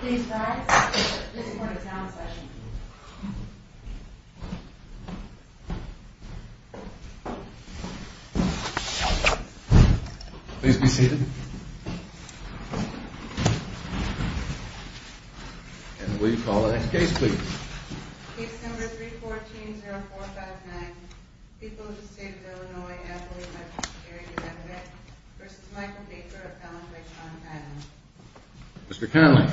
Please rise, this is for the town session. Please be seated. And will you call the next case please? Case number 314-0459, People of the State of Illinois, Appellate Defendant, v. Michael Baker, appellant by Sean Connolly. Mr. Connolly.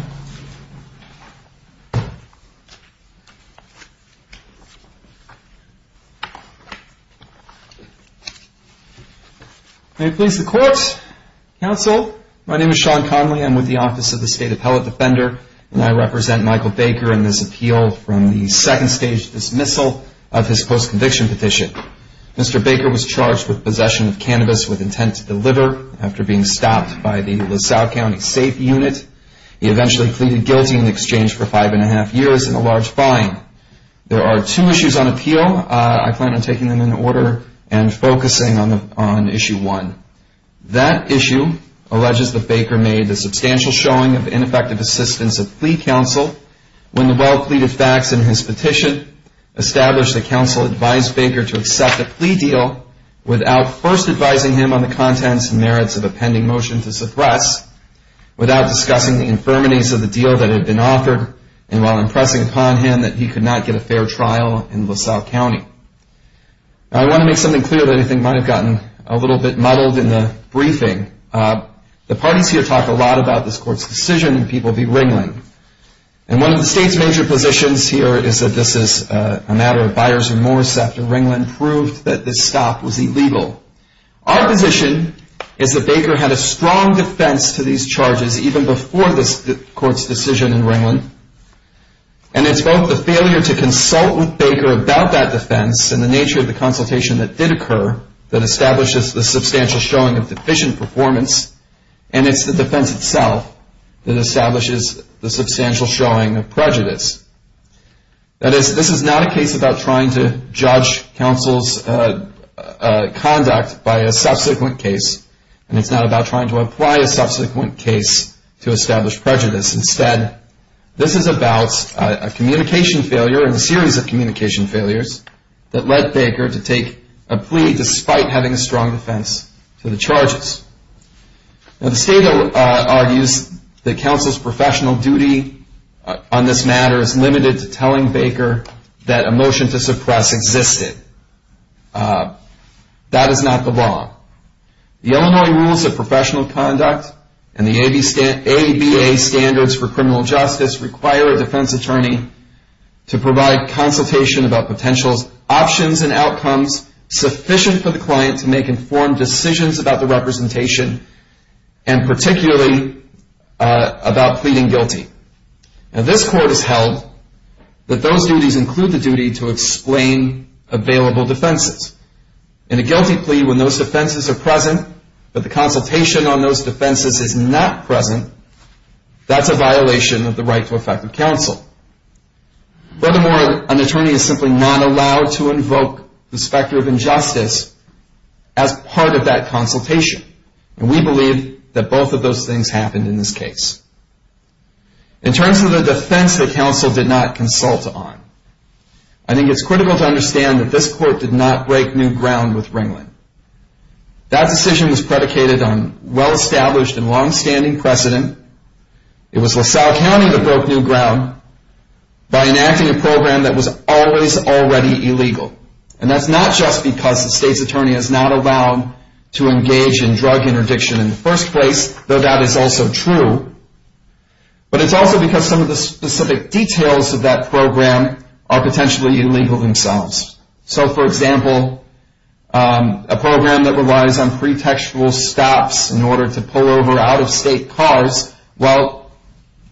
May it please the Court, Counsel, my name is Sean Connolly, I'm with the Office of the State Appellate Defender, and I represent Michael Baker in this appeal from the state of Illinois. Mr. Baker was charged with possession of cannabis with intent to deliver after being stopped by the LaSalle County Safe Unit. He eventually pleaded guilty in exchange for five and a half years and a large fine. There are two issues on appeal, I plan on taking them in order and focusing on issue one. That issue alleges that Baker made a substantial showing of ineffective assistance of plea counsel when the well-pleaded facts in his petition established that counsel advised Baker to accept a plea deal without first advising him on the contents and merits of a pending motion to suppress, without discussing the infirmities of the deal that had been offered, and while impressing upon him that he could not get a fair trial in LaSalle County. I want to make something clear that I think might have gotten a little bit muddled in the briefing. The parties here talk a lot about this Court's decision and people be wrangling, and one of the state's major positions here is that this is a matter of buyer's remorse after Ringland proved that this stop was illegal. Our position is that Baker had a strong defense to these charges even before this Court's decision in Ringland, and it's both the failure to consult with Baker about that defense and the nature of the consultation that did occur that establishes the substantial showing of deficient performance, and it's the defense itself that establishes the substantial showing of prejudice. That is, this is not a case about trying to judge counsel's conduct by a subsequent case, and it's not about trying to apply a subsequent case to establish prejudice. Instead, this is about a communication failure and a series of communication failures that led Baker to take a plea despite having a strong defense to the charges. Now, the state argues that counsel's professional duty on this matter is limited to telling Baker that a motion to suppress existed. That is not the law. The Illinois Rules of Professional Conduct and the ABA Standards for Criminal Justice require a defense attorney to provide consultation about potential options and outcomes sufficient for the client to make informed decisions about the representation and particularly about pleading guilty. Now, this Court has held that those duties include the duty to explain available defenses. In a guilty plea, when those defenses are present, but the consultation on those defenses is not present, that's a violation of the right to effective counsel. Furthermore, an attorney is simply not allowed to invoke the specter of injustice as part of that consultation, and we believe that both of those things happened in this case. In terms of the defense that counsel did not consult on, I think it's critical to understand that this Court did not break new ground with Ringland. That decision was predicated on well-established and longstanding precedent. It was LaSalle County that broke new ground by enacting a program that was always already illegal, and that's not just because the state's attorney is not allowed to engage in drug interdiction in the first place, though that is also true, but it's also because some of the specific details of that program are potentially illegal themselves. So, for example, a program that relies on pretextual stops in order to pull over out-of-state cars, while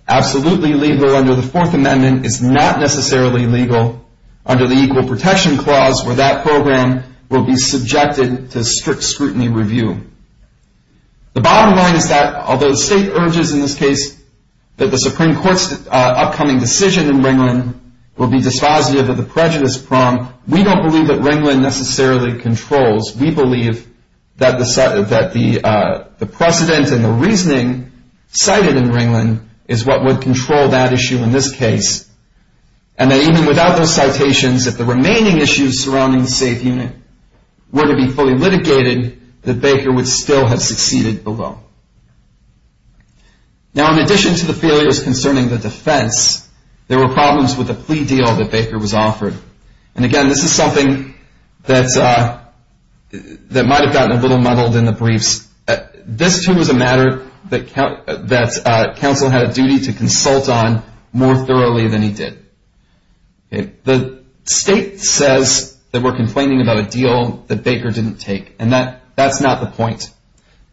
absolutely legal under the Fourth Amendment, is not necessarily legal under the Equal Protection Clause, where that program will be subjected to strict scrutiny review. The bottom line is that although the state urges in this case that the Supreme Court's upcoming decision in Ringland will be dispositive of the prejudice prong, we don't believe that Ringland necessarily controls. We believe that the precedent and the reasoning cited in Ringland is what would control that issue in this case, and that even without those citations, if the remaining issues surrounding the safe unit were to be fully litigated, that Baker would still have succeeded below. Now, in addition to the failures concerning the defense, there were problems with the plea deal that Baker was offered, and again, this is something that might have gotten a little muddled in the briefs. This, too, was a matter that counsel had a duty to consult on more thoroughly than he did. The state says that we're complaining about a deal that Baker didn't take, and that's not the point.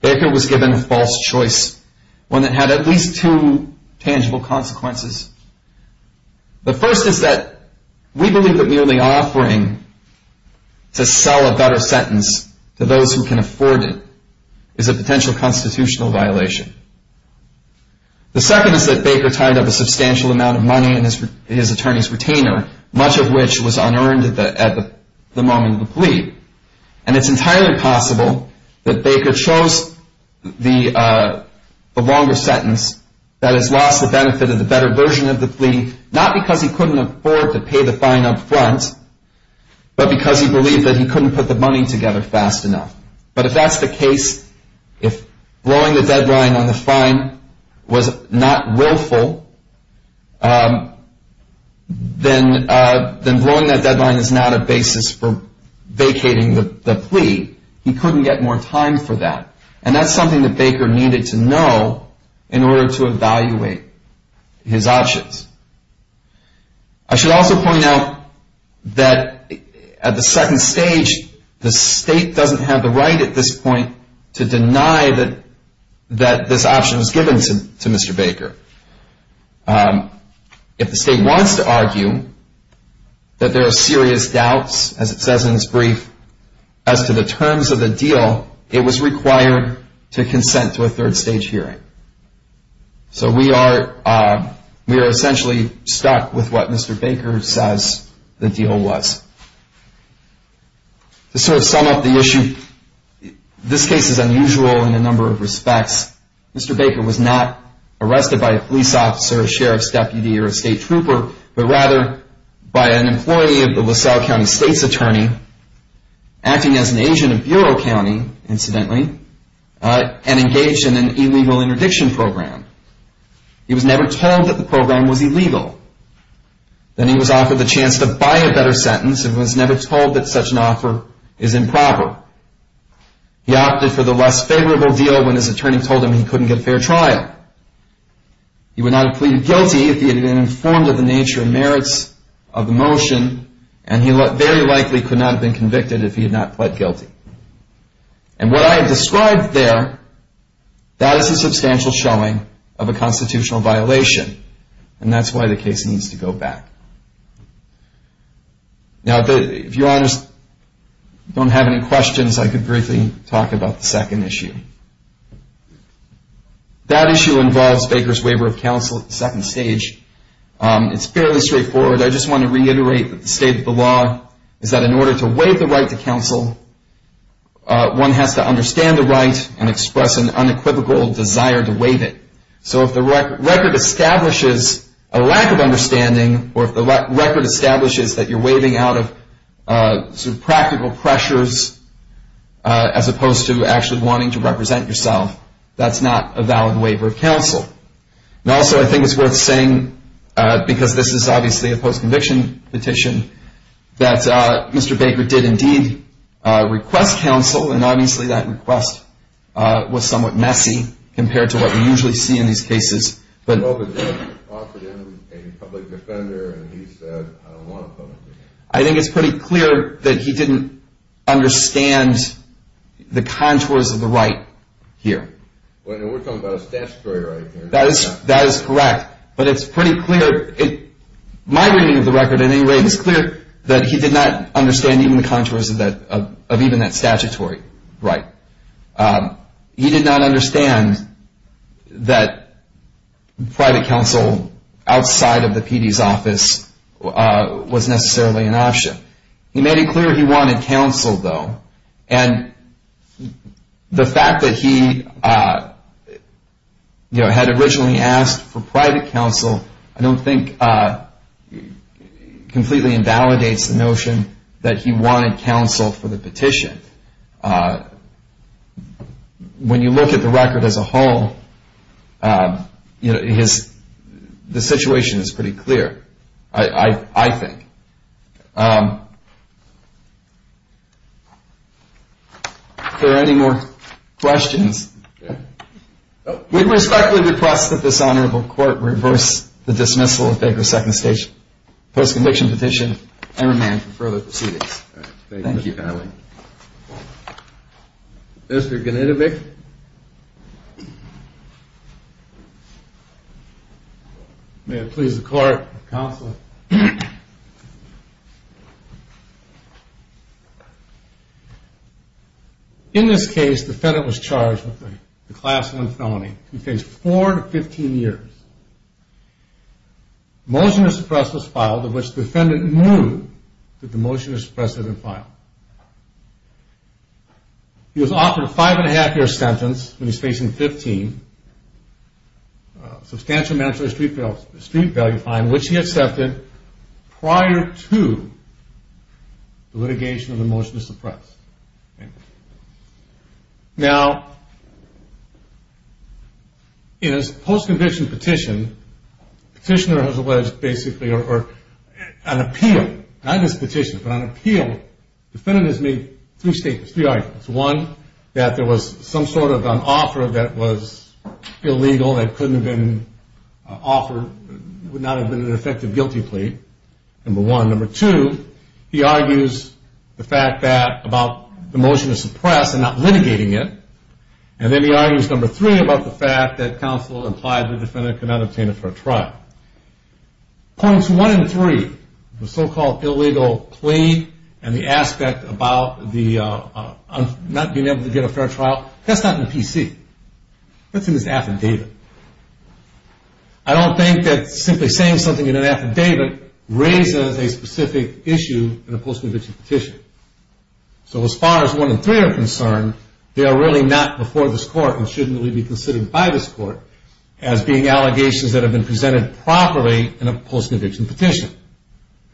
Baker was given a false choice, one that had at least two tangible consequences. The first is that we believe that merely offering to sell a better sentence to those who can afford it is a potential constitutional violation. The second is that Baker tied up a substantial amount of money in his attorney's retainer, much of which was unearned at the moment of the plea, and it's entirely possible that Baker chose the longer sentence that has lost the benefit of the better version of the plea, not because he couldn't afford to pay the fine up front, but because he believed that he couldn't put the money together fast enough. But if that's the case, if blowing the deadline on the fine was not willful, then blowing that deadline is not a basis for vacating the plea. He couldn't get more time for that, and that's something that Baker needed to know in order to evaluate his options. I should also point out that at the second stage, the state doesn't have the right at this point to deny that this option was given to Mr. Baker. If the state wants to argue that there are serious doubts, as it says in this brief, as to the terms of the deal, it was required to consent to a third-stage hearing. So we are essentially stuck with what Mr. Baker says the deal was. To sort of sum up the issue, this case is unusual in a number of respects. Mr. Baker was not arrested by a police officer, a sheriff's deputy, or a state trooper, but rather by an employee of the LaSalle County State's Attorney, acting as an agent of Bureau County, incidentally, and engaged in an illegal interdiction program. He was never told that the program was illegal. Then he was offered the chance to buy a better sentence and was never told that such an offer is improper. He opted for the less favorable deal when his attorney told him he couldn't get a fair trial. He would not have pleaded guilty if he had been informed of the nature and merits of the motion, and he very likely could not have been convicted if he had not pled guilty. And what I have described there, that is a substantial showing of a constitutional violation, and that's why the case needs to go back. Now, if you don't have any questions, I could briefly talk about the second issue. That issue involves Baker's waiver of counsel at the second stage. It's fairly straightforward. I just want to reiterate that the state of the law is that in order to waive the right to counsel, one has to understand the right and express an unequivocal desire to waive it. So if the record establishes a lack of understanding, or if the record establishes that you're waiving out of sort of practical pressures as opposed to actually wanting to represent yourself, that's not a valid waiver of counsel. And also I think it's worth saying, because this is obviously a post-conviction petition, that Mr. Baker did indeed request counsel, and obviously that request was somewhat messy compared to what we usually see in these cases. But I think it's pretty clear that he didn't understand the contours of the right here. That is correct. But it's pretty clear, my reading of the record at any rate, it's clear that he did not understand even the contours of even that statutory right. He did not understand that private counsel outside of the PD's office was necessarily an option. He made it clear he wanted counsel, though, and the fact that he had originally asked for private counsel, I don't think completely invalidates the notion that he wanted counsel for the petition. When you look at the record as a whole, the situation is pretty clear, I think. If there are any more questions, we respectfully request that this honorable court reverse the dismissal of Baker's second stage post-conviction petition and remand for further proceedings. Thank you. Mr. Gnidovic. In this case, the defendant was charged with the class one felony. He faced four to 15 years. Motion to suppress was filed, of which the defendant knew that the motion to suppress had been filed. He was offered a five and a half year sentence when he was facing 15. Substantial mandatory street value fine, which he accepted prior to the litigation of the motion to suppress. Now, in his post-conviction petition, the petitioner has alleged basically an appeal, not just a petition, but an appeal. The defendant has made three statements, three arguments. One, that there was some sort of an offer that was illegal that couldn't have been offered, would not have been an effective guilty plea, number one. Number two, he argues the fact that about the motion to suppress and not litigating it. And then he argues number three about the fact that counsel implied the defendant could not obtain a fair trial. Points one and three, the so-called illegal plea and the aspect about the not being able to get a fair trial, that's not in the PC. That's in his affidavit. I don't think that simply saying something in an affidavit raises a specific issue in a post-conviction petition. So as far as one and three are concerned, they are really not before this court and shouldn't really be considered by this court as being allegations that have been presented properly in a post-conviction petition.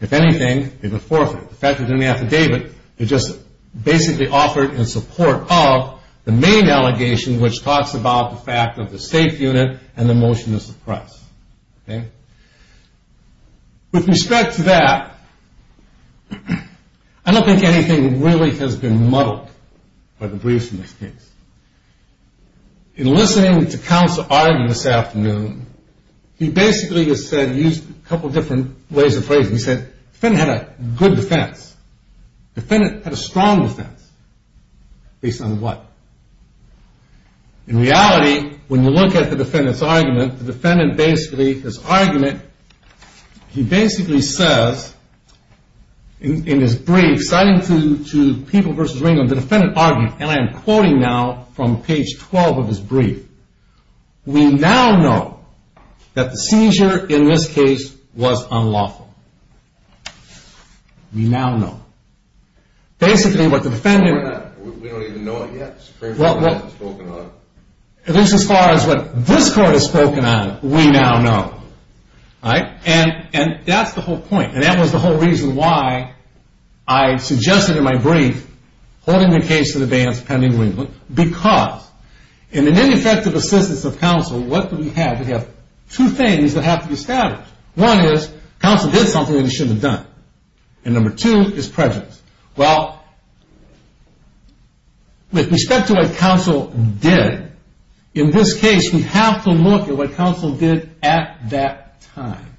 If anything, they've been forfeited. The fact they're in the affidavit, they're just basically offered in support of the main allegation which talks about the fact of the safe unit and the motion to suppress. With respect to that, I don't think anything really has been muddled by the briefs in this case. In listening to counsel argue this afternoon, he basically used a couple different ways of phrasing it. He said the defendant had a good defense. The defendant had a strong defense. Based on what? In reality, when you look at the defendant's argument, the defendant basically, his argument, he basically says in his brief citing to People v. Ringgold, the defendant argued, and I am quoting now from page 12 of his brief, we now know that the seizure in this case was unlawful. We now know. Basically, what the defendant... We don't even know it yet. At least as far as what this court has spoken on, we now know. And that's the whole point. And that was the whole reason why I suggested in my brief holding the case in advance pending Ringgold because in an ineffective assistance of counsel, what do we have? We have two things that have to be established. One is counsel did something that he shouldn't have done. And number two is prejudice. Well, with respect to what counsel did, in this case we have to look at what counsel did at that time.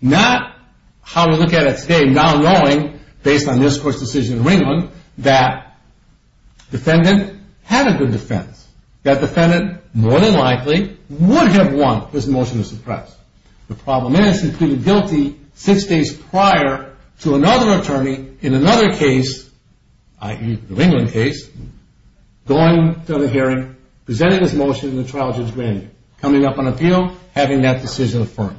Not how we look at it today now knowing based on this court's decision in Ringgold that defendant had a good defense. That defendant more than likely would have won this motion to suppress. The problem is he pleaded guilty six days prior to another attorney in another case, i.e. the Ringgold case, going to the hearing, presenting his motion in the trial judge grand jury, coming up on appeal, having that decision affirmed.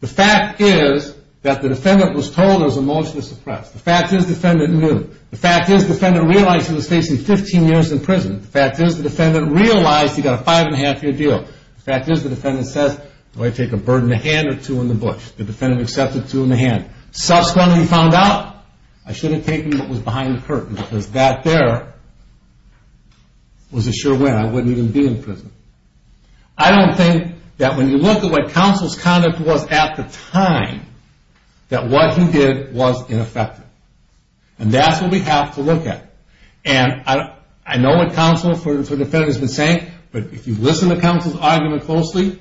The fact is that the defendant was told it was a motion to suppress. The fact is the defendant knew. The fact is the defendant realized he was facing 15 years in prison. The fact is the defendant realized he got a five and a half year deal. The fact is the defendant says, do I take a bird in the hand or two in the bush? The defendant accepted two in the hand. Subsequently he found out I should have taken what was behind the curtain because that there was a sure win. I wouldn't even be in prison. I don't think that when you look at what counsel's conduct was at the time, that what he did was ineffective. And that's what we have to look at. And I know what the defense has been saying, but if you listen to counsel's argument closely,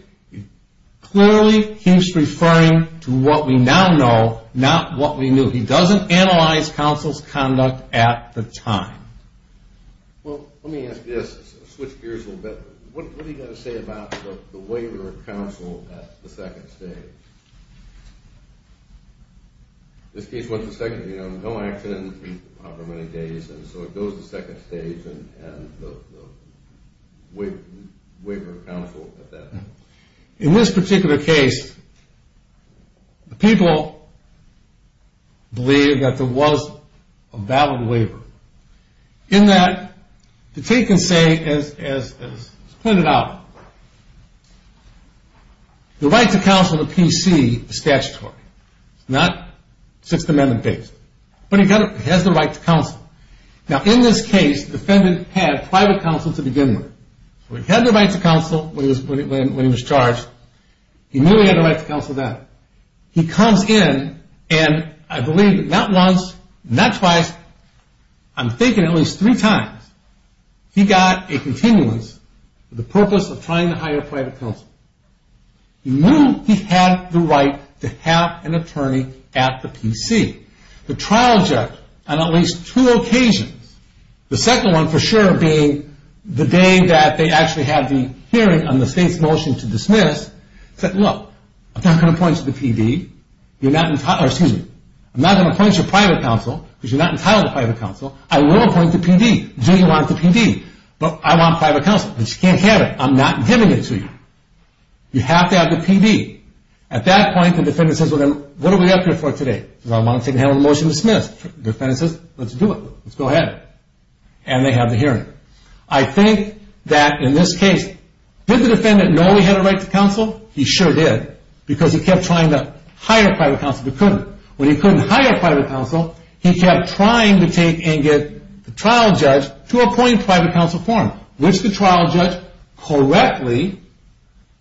clearly he's referring to what we now know, not what we knew. He doesn't analyze counsel's conduct at the time. Let me switch gears a little bit. What do you have to say about the waiver of counsel at the second stage? This case was the second, you know, no accident however many days, and so it goes to the second stage and the waiver of counsel at that point. In this particular case, the people believe that there was a valid waiver. In that, to take and say as pointed out, the right to counsel in the PC is statutory. It's not Sixth Amendment based. But he has the right to counsel. Now in this case, the defendant had private counsel to begin with. He had the right to counsel when he was charged. He knew he had the right to counsel then. He comes in and I believe not once, not twice, I'm thinking at least three times, he got a continuance for the purpose of trying to hire private counsel. He knew he had the right to have an attorney at the PC. The trial judge on at least two occasions, the second one for sure being the day that they actually had the hearing on the state's motion to dismiss, said look, I'm not going to point to the PD. Excuse me. I'm not going to point to private counsel because you're not entitled to private counsel. I will point to PD. Do you want the PD? But I want private counsel. But you can't have it. I'm not giving it to you. You have to have the PD. At that point, the defendant says, what are we up here for today? I want to take a motion to dismiss. The defendant says, let's do it. Let's go ahead. And they have the hearing. I think that in this case, did the defendant know he had a right to counsel? He sure did because he kept trying to hire private counsel but couldn't. When he couldn't hire private counsel, he kept trying to take and get the trial judge to appoint private counsel for him, which the trial judge correctly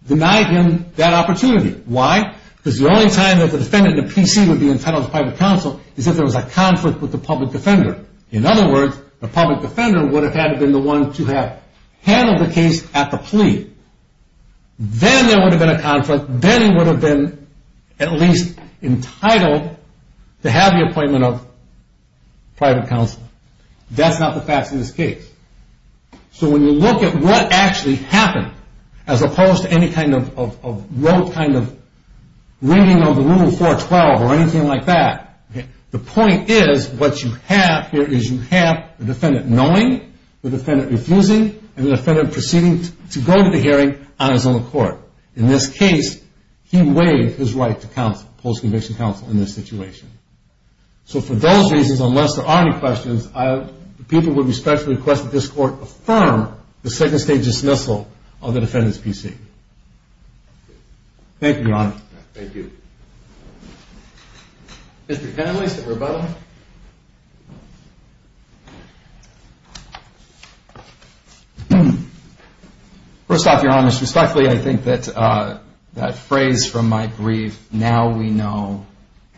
denied him that opportunity. Why? Because the only time that the defendant in the PC would be entitled to private counsel is if there was a conflict with the public defender. In other words, the public defender would have had to be the one to have handled the case at the plea. Then there would have been a conflict. Then he would have been at least entitled to have the appointment of private counsel. That's not the facts in this case. So when you look at what actually happened, as opposed to any kind of rote kind of ringing on the room 412 or anything like that, the point is what you have here is you have the defendant knowing, the defendant refusing, and the defendant proceeding to go to the hearing on his own accord. In this case, he waived his right to counsel, post-conviction counsel in this situation. So for those reasons, unless there are any questions, people would respectfully request that this court affirm the second stage dismissal of the defendant's PC. Thank you, Your Honor. First off, Your Honor, respectfully, I think that phrase from my brief, now we know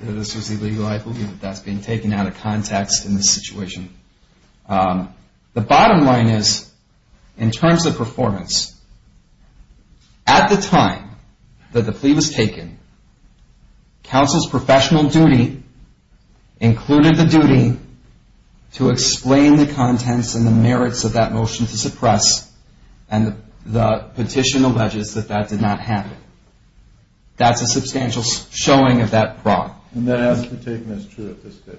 that this was illegal. I believe that's been taken out of context in this situation. The bottom line is, in terms of performance, at the time that the plea was taken, counsel's professional duty included the duty to explain the contents and the merits of that motion to suppress, and the petition alleges that that did not happen. That's a substantial showing of that fraud.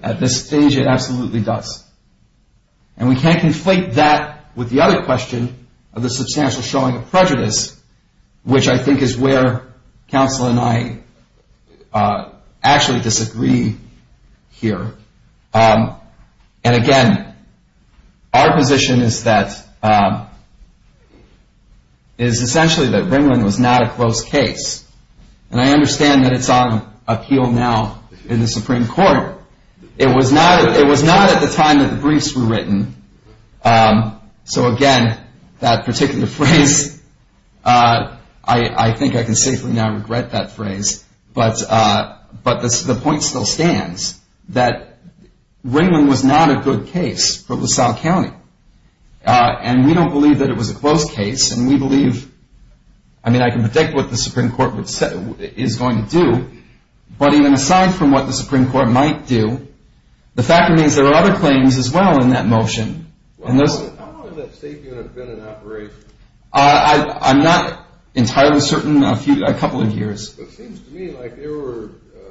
At this stage, it absolutely does. And we can't conflate that with the other question of the substantial showing of prejudice, which I think is where counsel and I actually disagree here. And again, our position is that, is appeal now in the Supreme Court. It was not at the time that the briefs were written. So again, that particular phrase, I think I can safely now regret that phrase, but the point still stands, that Ringling was not a good case for LaSalle County. And we don't believe that it was a close case, and we believe, I mean, I can predict what the Supreme Court is going to do, but even aside from what the Supreme Court might do, the fact remains there are other claims as well in that motion. How long has that safe unit been in operation? I'm not entirely certain. A couple of years. But it seems to me like there were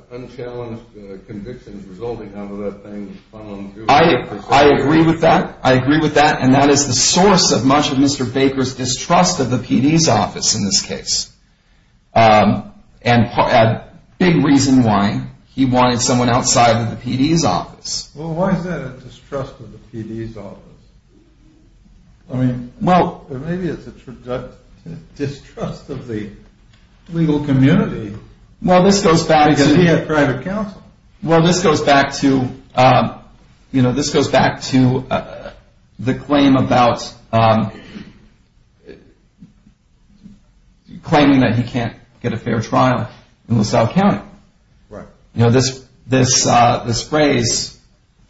unchallenged convictions resulting out of that thing. I agree with that. And that is the source of much of Mr. Baker's distrust of the PD's office in this case. And a big reason why he wanted someone outside of the PD's office. Well, why is that a distrust of the PD's office? I mean, maybe it's a distrust of the legal community. So he had private counsel. Well, this goes back to the claim about claiming that he can't get a fair trial in LaSalle County. Right. This phrase,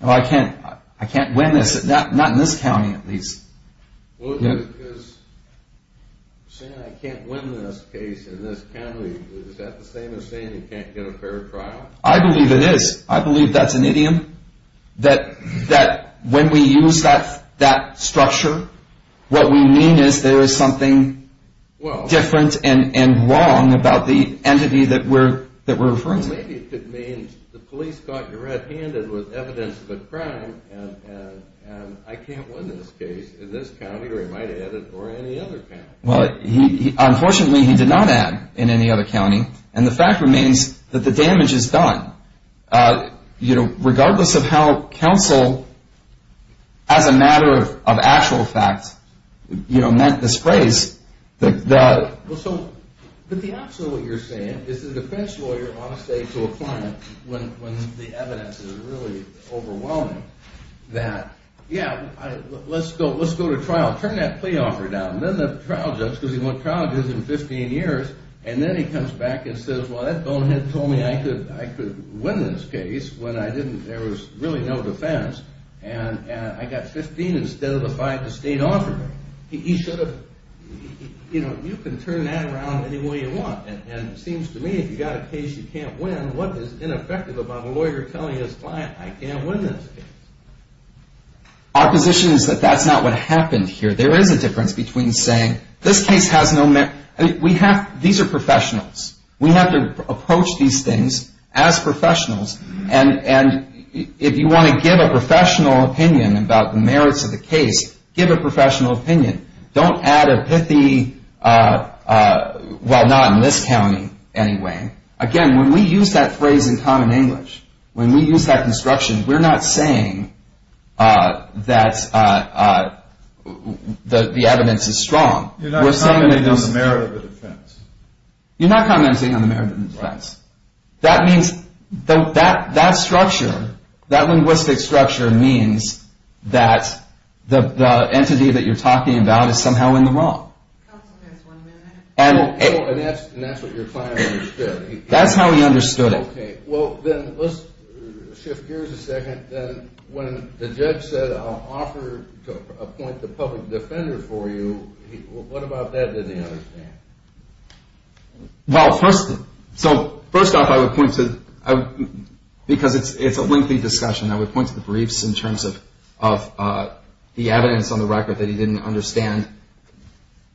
I can't win this, not in this county at least. Well, because saying I can't win this case in this county, is that the same as saying you can't get a fair trial? I believe it is. I believe that's an idiom. That when we use that structure, what we mean is there is something different and wrong about the entity that we're referring to. Maybe it could mean the police got you red handed with evidence of a crime and I can't win this case in this county or any other county. Unfortunately, he did not add in any other county. And the fact remains that the damage is done. Regardless of how counsel, as a matter of actual fact, meant this phrase. But the opposite of what you're saying is the defense lawyer ought to say to a client when the evidence is really overwhelming that, yeah, let's go to trial. Turn that plea offer down. And then the trial judge, because he went to trial in 15 years, and then he comes back and says, well, that bonehead told me I could win this case when there was really no defense. And I got 15 instead of the five the state offered me. You can turn that around any way you want. And it seems to me if you've got a case you can't win, what is ineffective about a lawyer telling his client, I can't win this case? Our position is that that's not what happened here. There is a difference between saying, this case has no merit. These are professionals. We have to approach these things as professionals. And if you want to give a professional opinion about the merits of the case, give a professional opinion. Don't add a pithy, well, not in this county anyway. Again, when we use that phrase in common English, when we use that construction, we're not saying that the evidence is strong. You're not commenting on the merit of the defense. That means, that structure, that linguistic structure means that the entity that you're talking about is somehow in the wrong. And that's what your client understood. That's how he understood it. Okay. Well, then let's shift gears a second. When the judge said, I'll offer to appoint the public defender for you, what about that did he understand? Well, first off, because it's a lengthy discussion, I would point to the briefs in terms of the evidence on the record that he didn't understand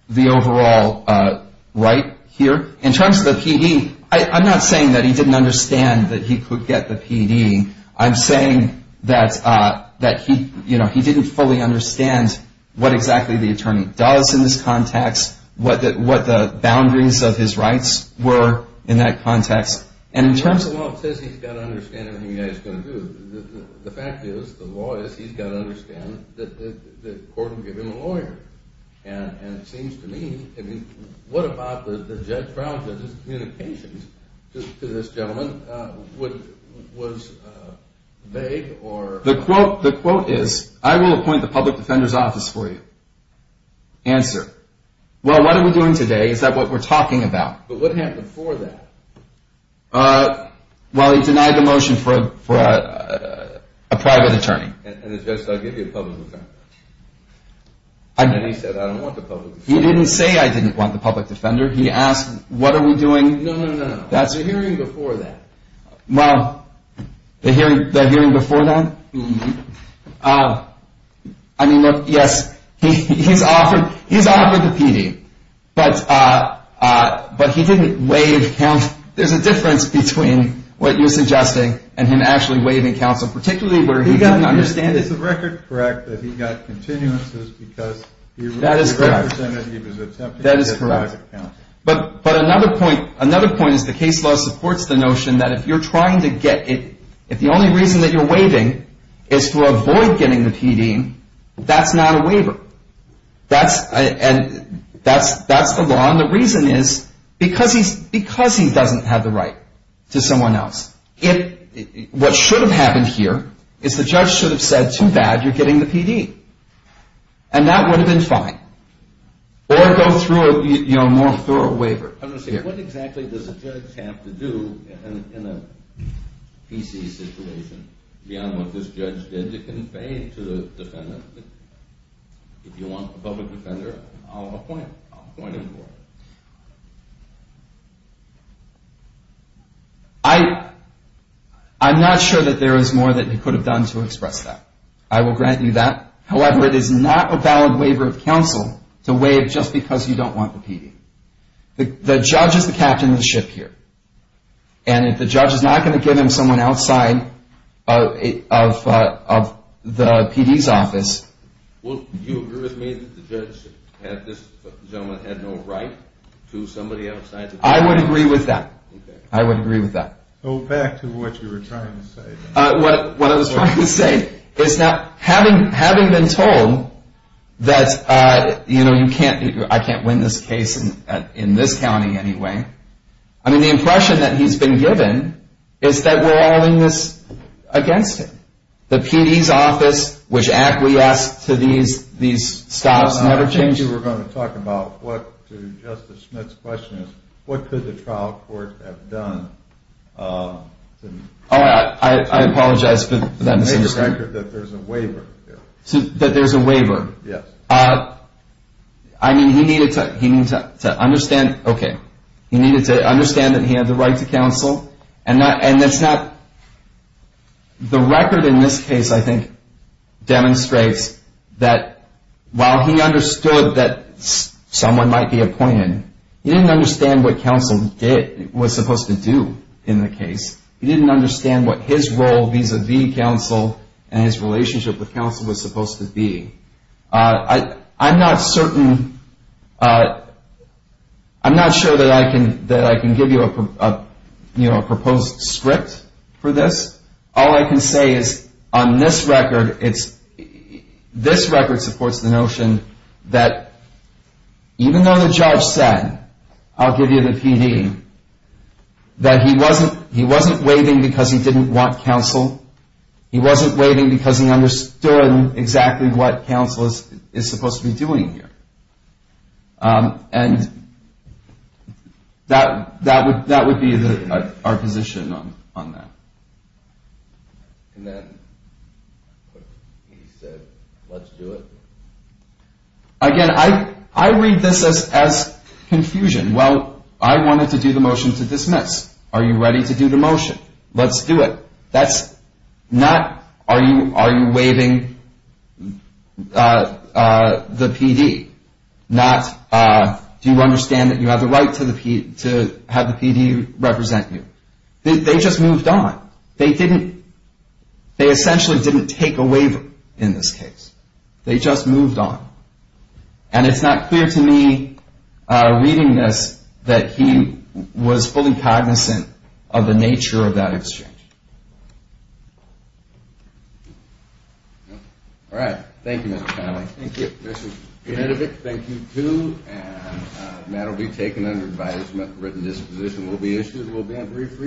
the overall right here. In terms of the PD, I'm not saying that he didn't understand that he could get the PD. I'm saying that he didn't fully understand what exactly the attorney does in this context, what the boundaries of his rights were in that context. Well, it says he's got to understand everything you guys are going to do. The fact is, the law is, he's got to understand everything. The quote is, I will appoint the public defender's office for you. Answer. Well, what are we doing today? Is that what we're talking about? But what happened before that? Well, he denied the motion for a private attorney. And the judge said, I'll give you a public defender. And he said, I don't want the public defender. He didn't say, I didn't want the public defender. He asked, what are we doing? No, no, no. The hearing before that. I mean, yes, he's offered the PD, but he didn't waive counsel. There's a difference between what you're suggesting and him actually waiving counsel, particularly where he didn't understand it. Is the record correct that he got continuances because he represented he was attempting to get back at counsel? That is correct. But another point is the case law supports the notion that if you're trying to get it, if the only reason that you're waiving is to avoid getting the PD, that's not a waiver. That's the law. And the reason is because he doesn't have the right to someone else. What should have happened here is the judge should have said, too bad, you're getting the PD. And that would have been fine. Or go through a more thorough waiver. I'm going to say, what exactly does a judge have to do in a PC situation beyond what this judge did to convey to the defendant that if you want a public defender, I'll appoint him. I'm not sure that there is more that he could have done to express that. I will grant you that. However, it is not a valid waiver of counsel to waive just because you don't want the PD. The judge is the captain of the ship here. And if the judge is not going to give him to someone outside of the PD's office. Do you agree with me that this gentleman had no right to somebody outside the PD? I would agree with that. Go back to what you were trying to say. Having been told that I can't win this case in this county anyway, I mean, the impression that he's been given is that we're all in this against him. The PD's office, which acquiesced to these stops, never changed. I thought you were going to talk about what, to Justice Schmidt's question, what could the trial court have done? I apologize for that misunderstanding. There is a record that there is a waiver. He needed to understand that he had the right to counsel. The record in this case, I think, demonstrates that while he understood that someone might be appointed, he didn't understand what counsel was supposed to do in the case. He didn't understand what his role vis-a-vis counsel and his relationship with counsel was supposed to be. I'm not sure that I can give you a proposed script for this. All I can say is on this record, this record supports the notion that even though the judge said, I'll give you the PD, that he wasn't waiving because he didn't want counsel. He wasn't waiving because he understood exactly what counsel is supposed to be doing here. That would be our position on that. And then he said, let's do it. Again, I read this as confusion. Well, I wanted to do the motion to dismiss. Are you ready to do the motion? Let's do it. That's not, are you waiving the PD? Not, do you understand that you have the right to have the PD represent you? They just moved on. They essentially didn't take a waiver in this case. They just moved on. And it's not clear to me, reading this, that he was fully cognizant of the nature of that exchange. All right. Thank you, Mr. Connelly. Thank you. And that will be taken under advisement. Written disposition will be issued. We'll be on brief recess.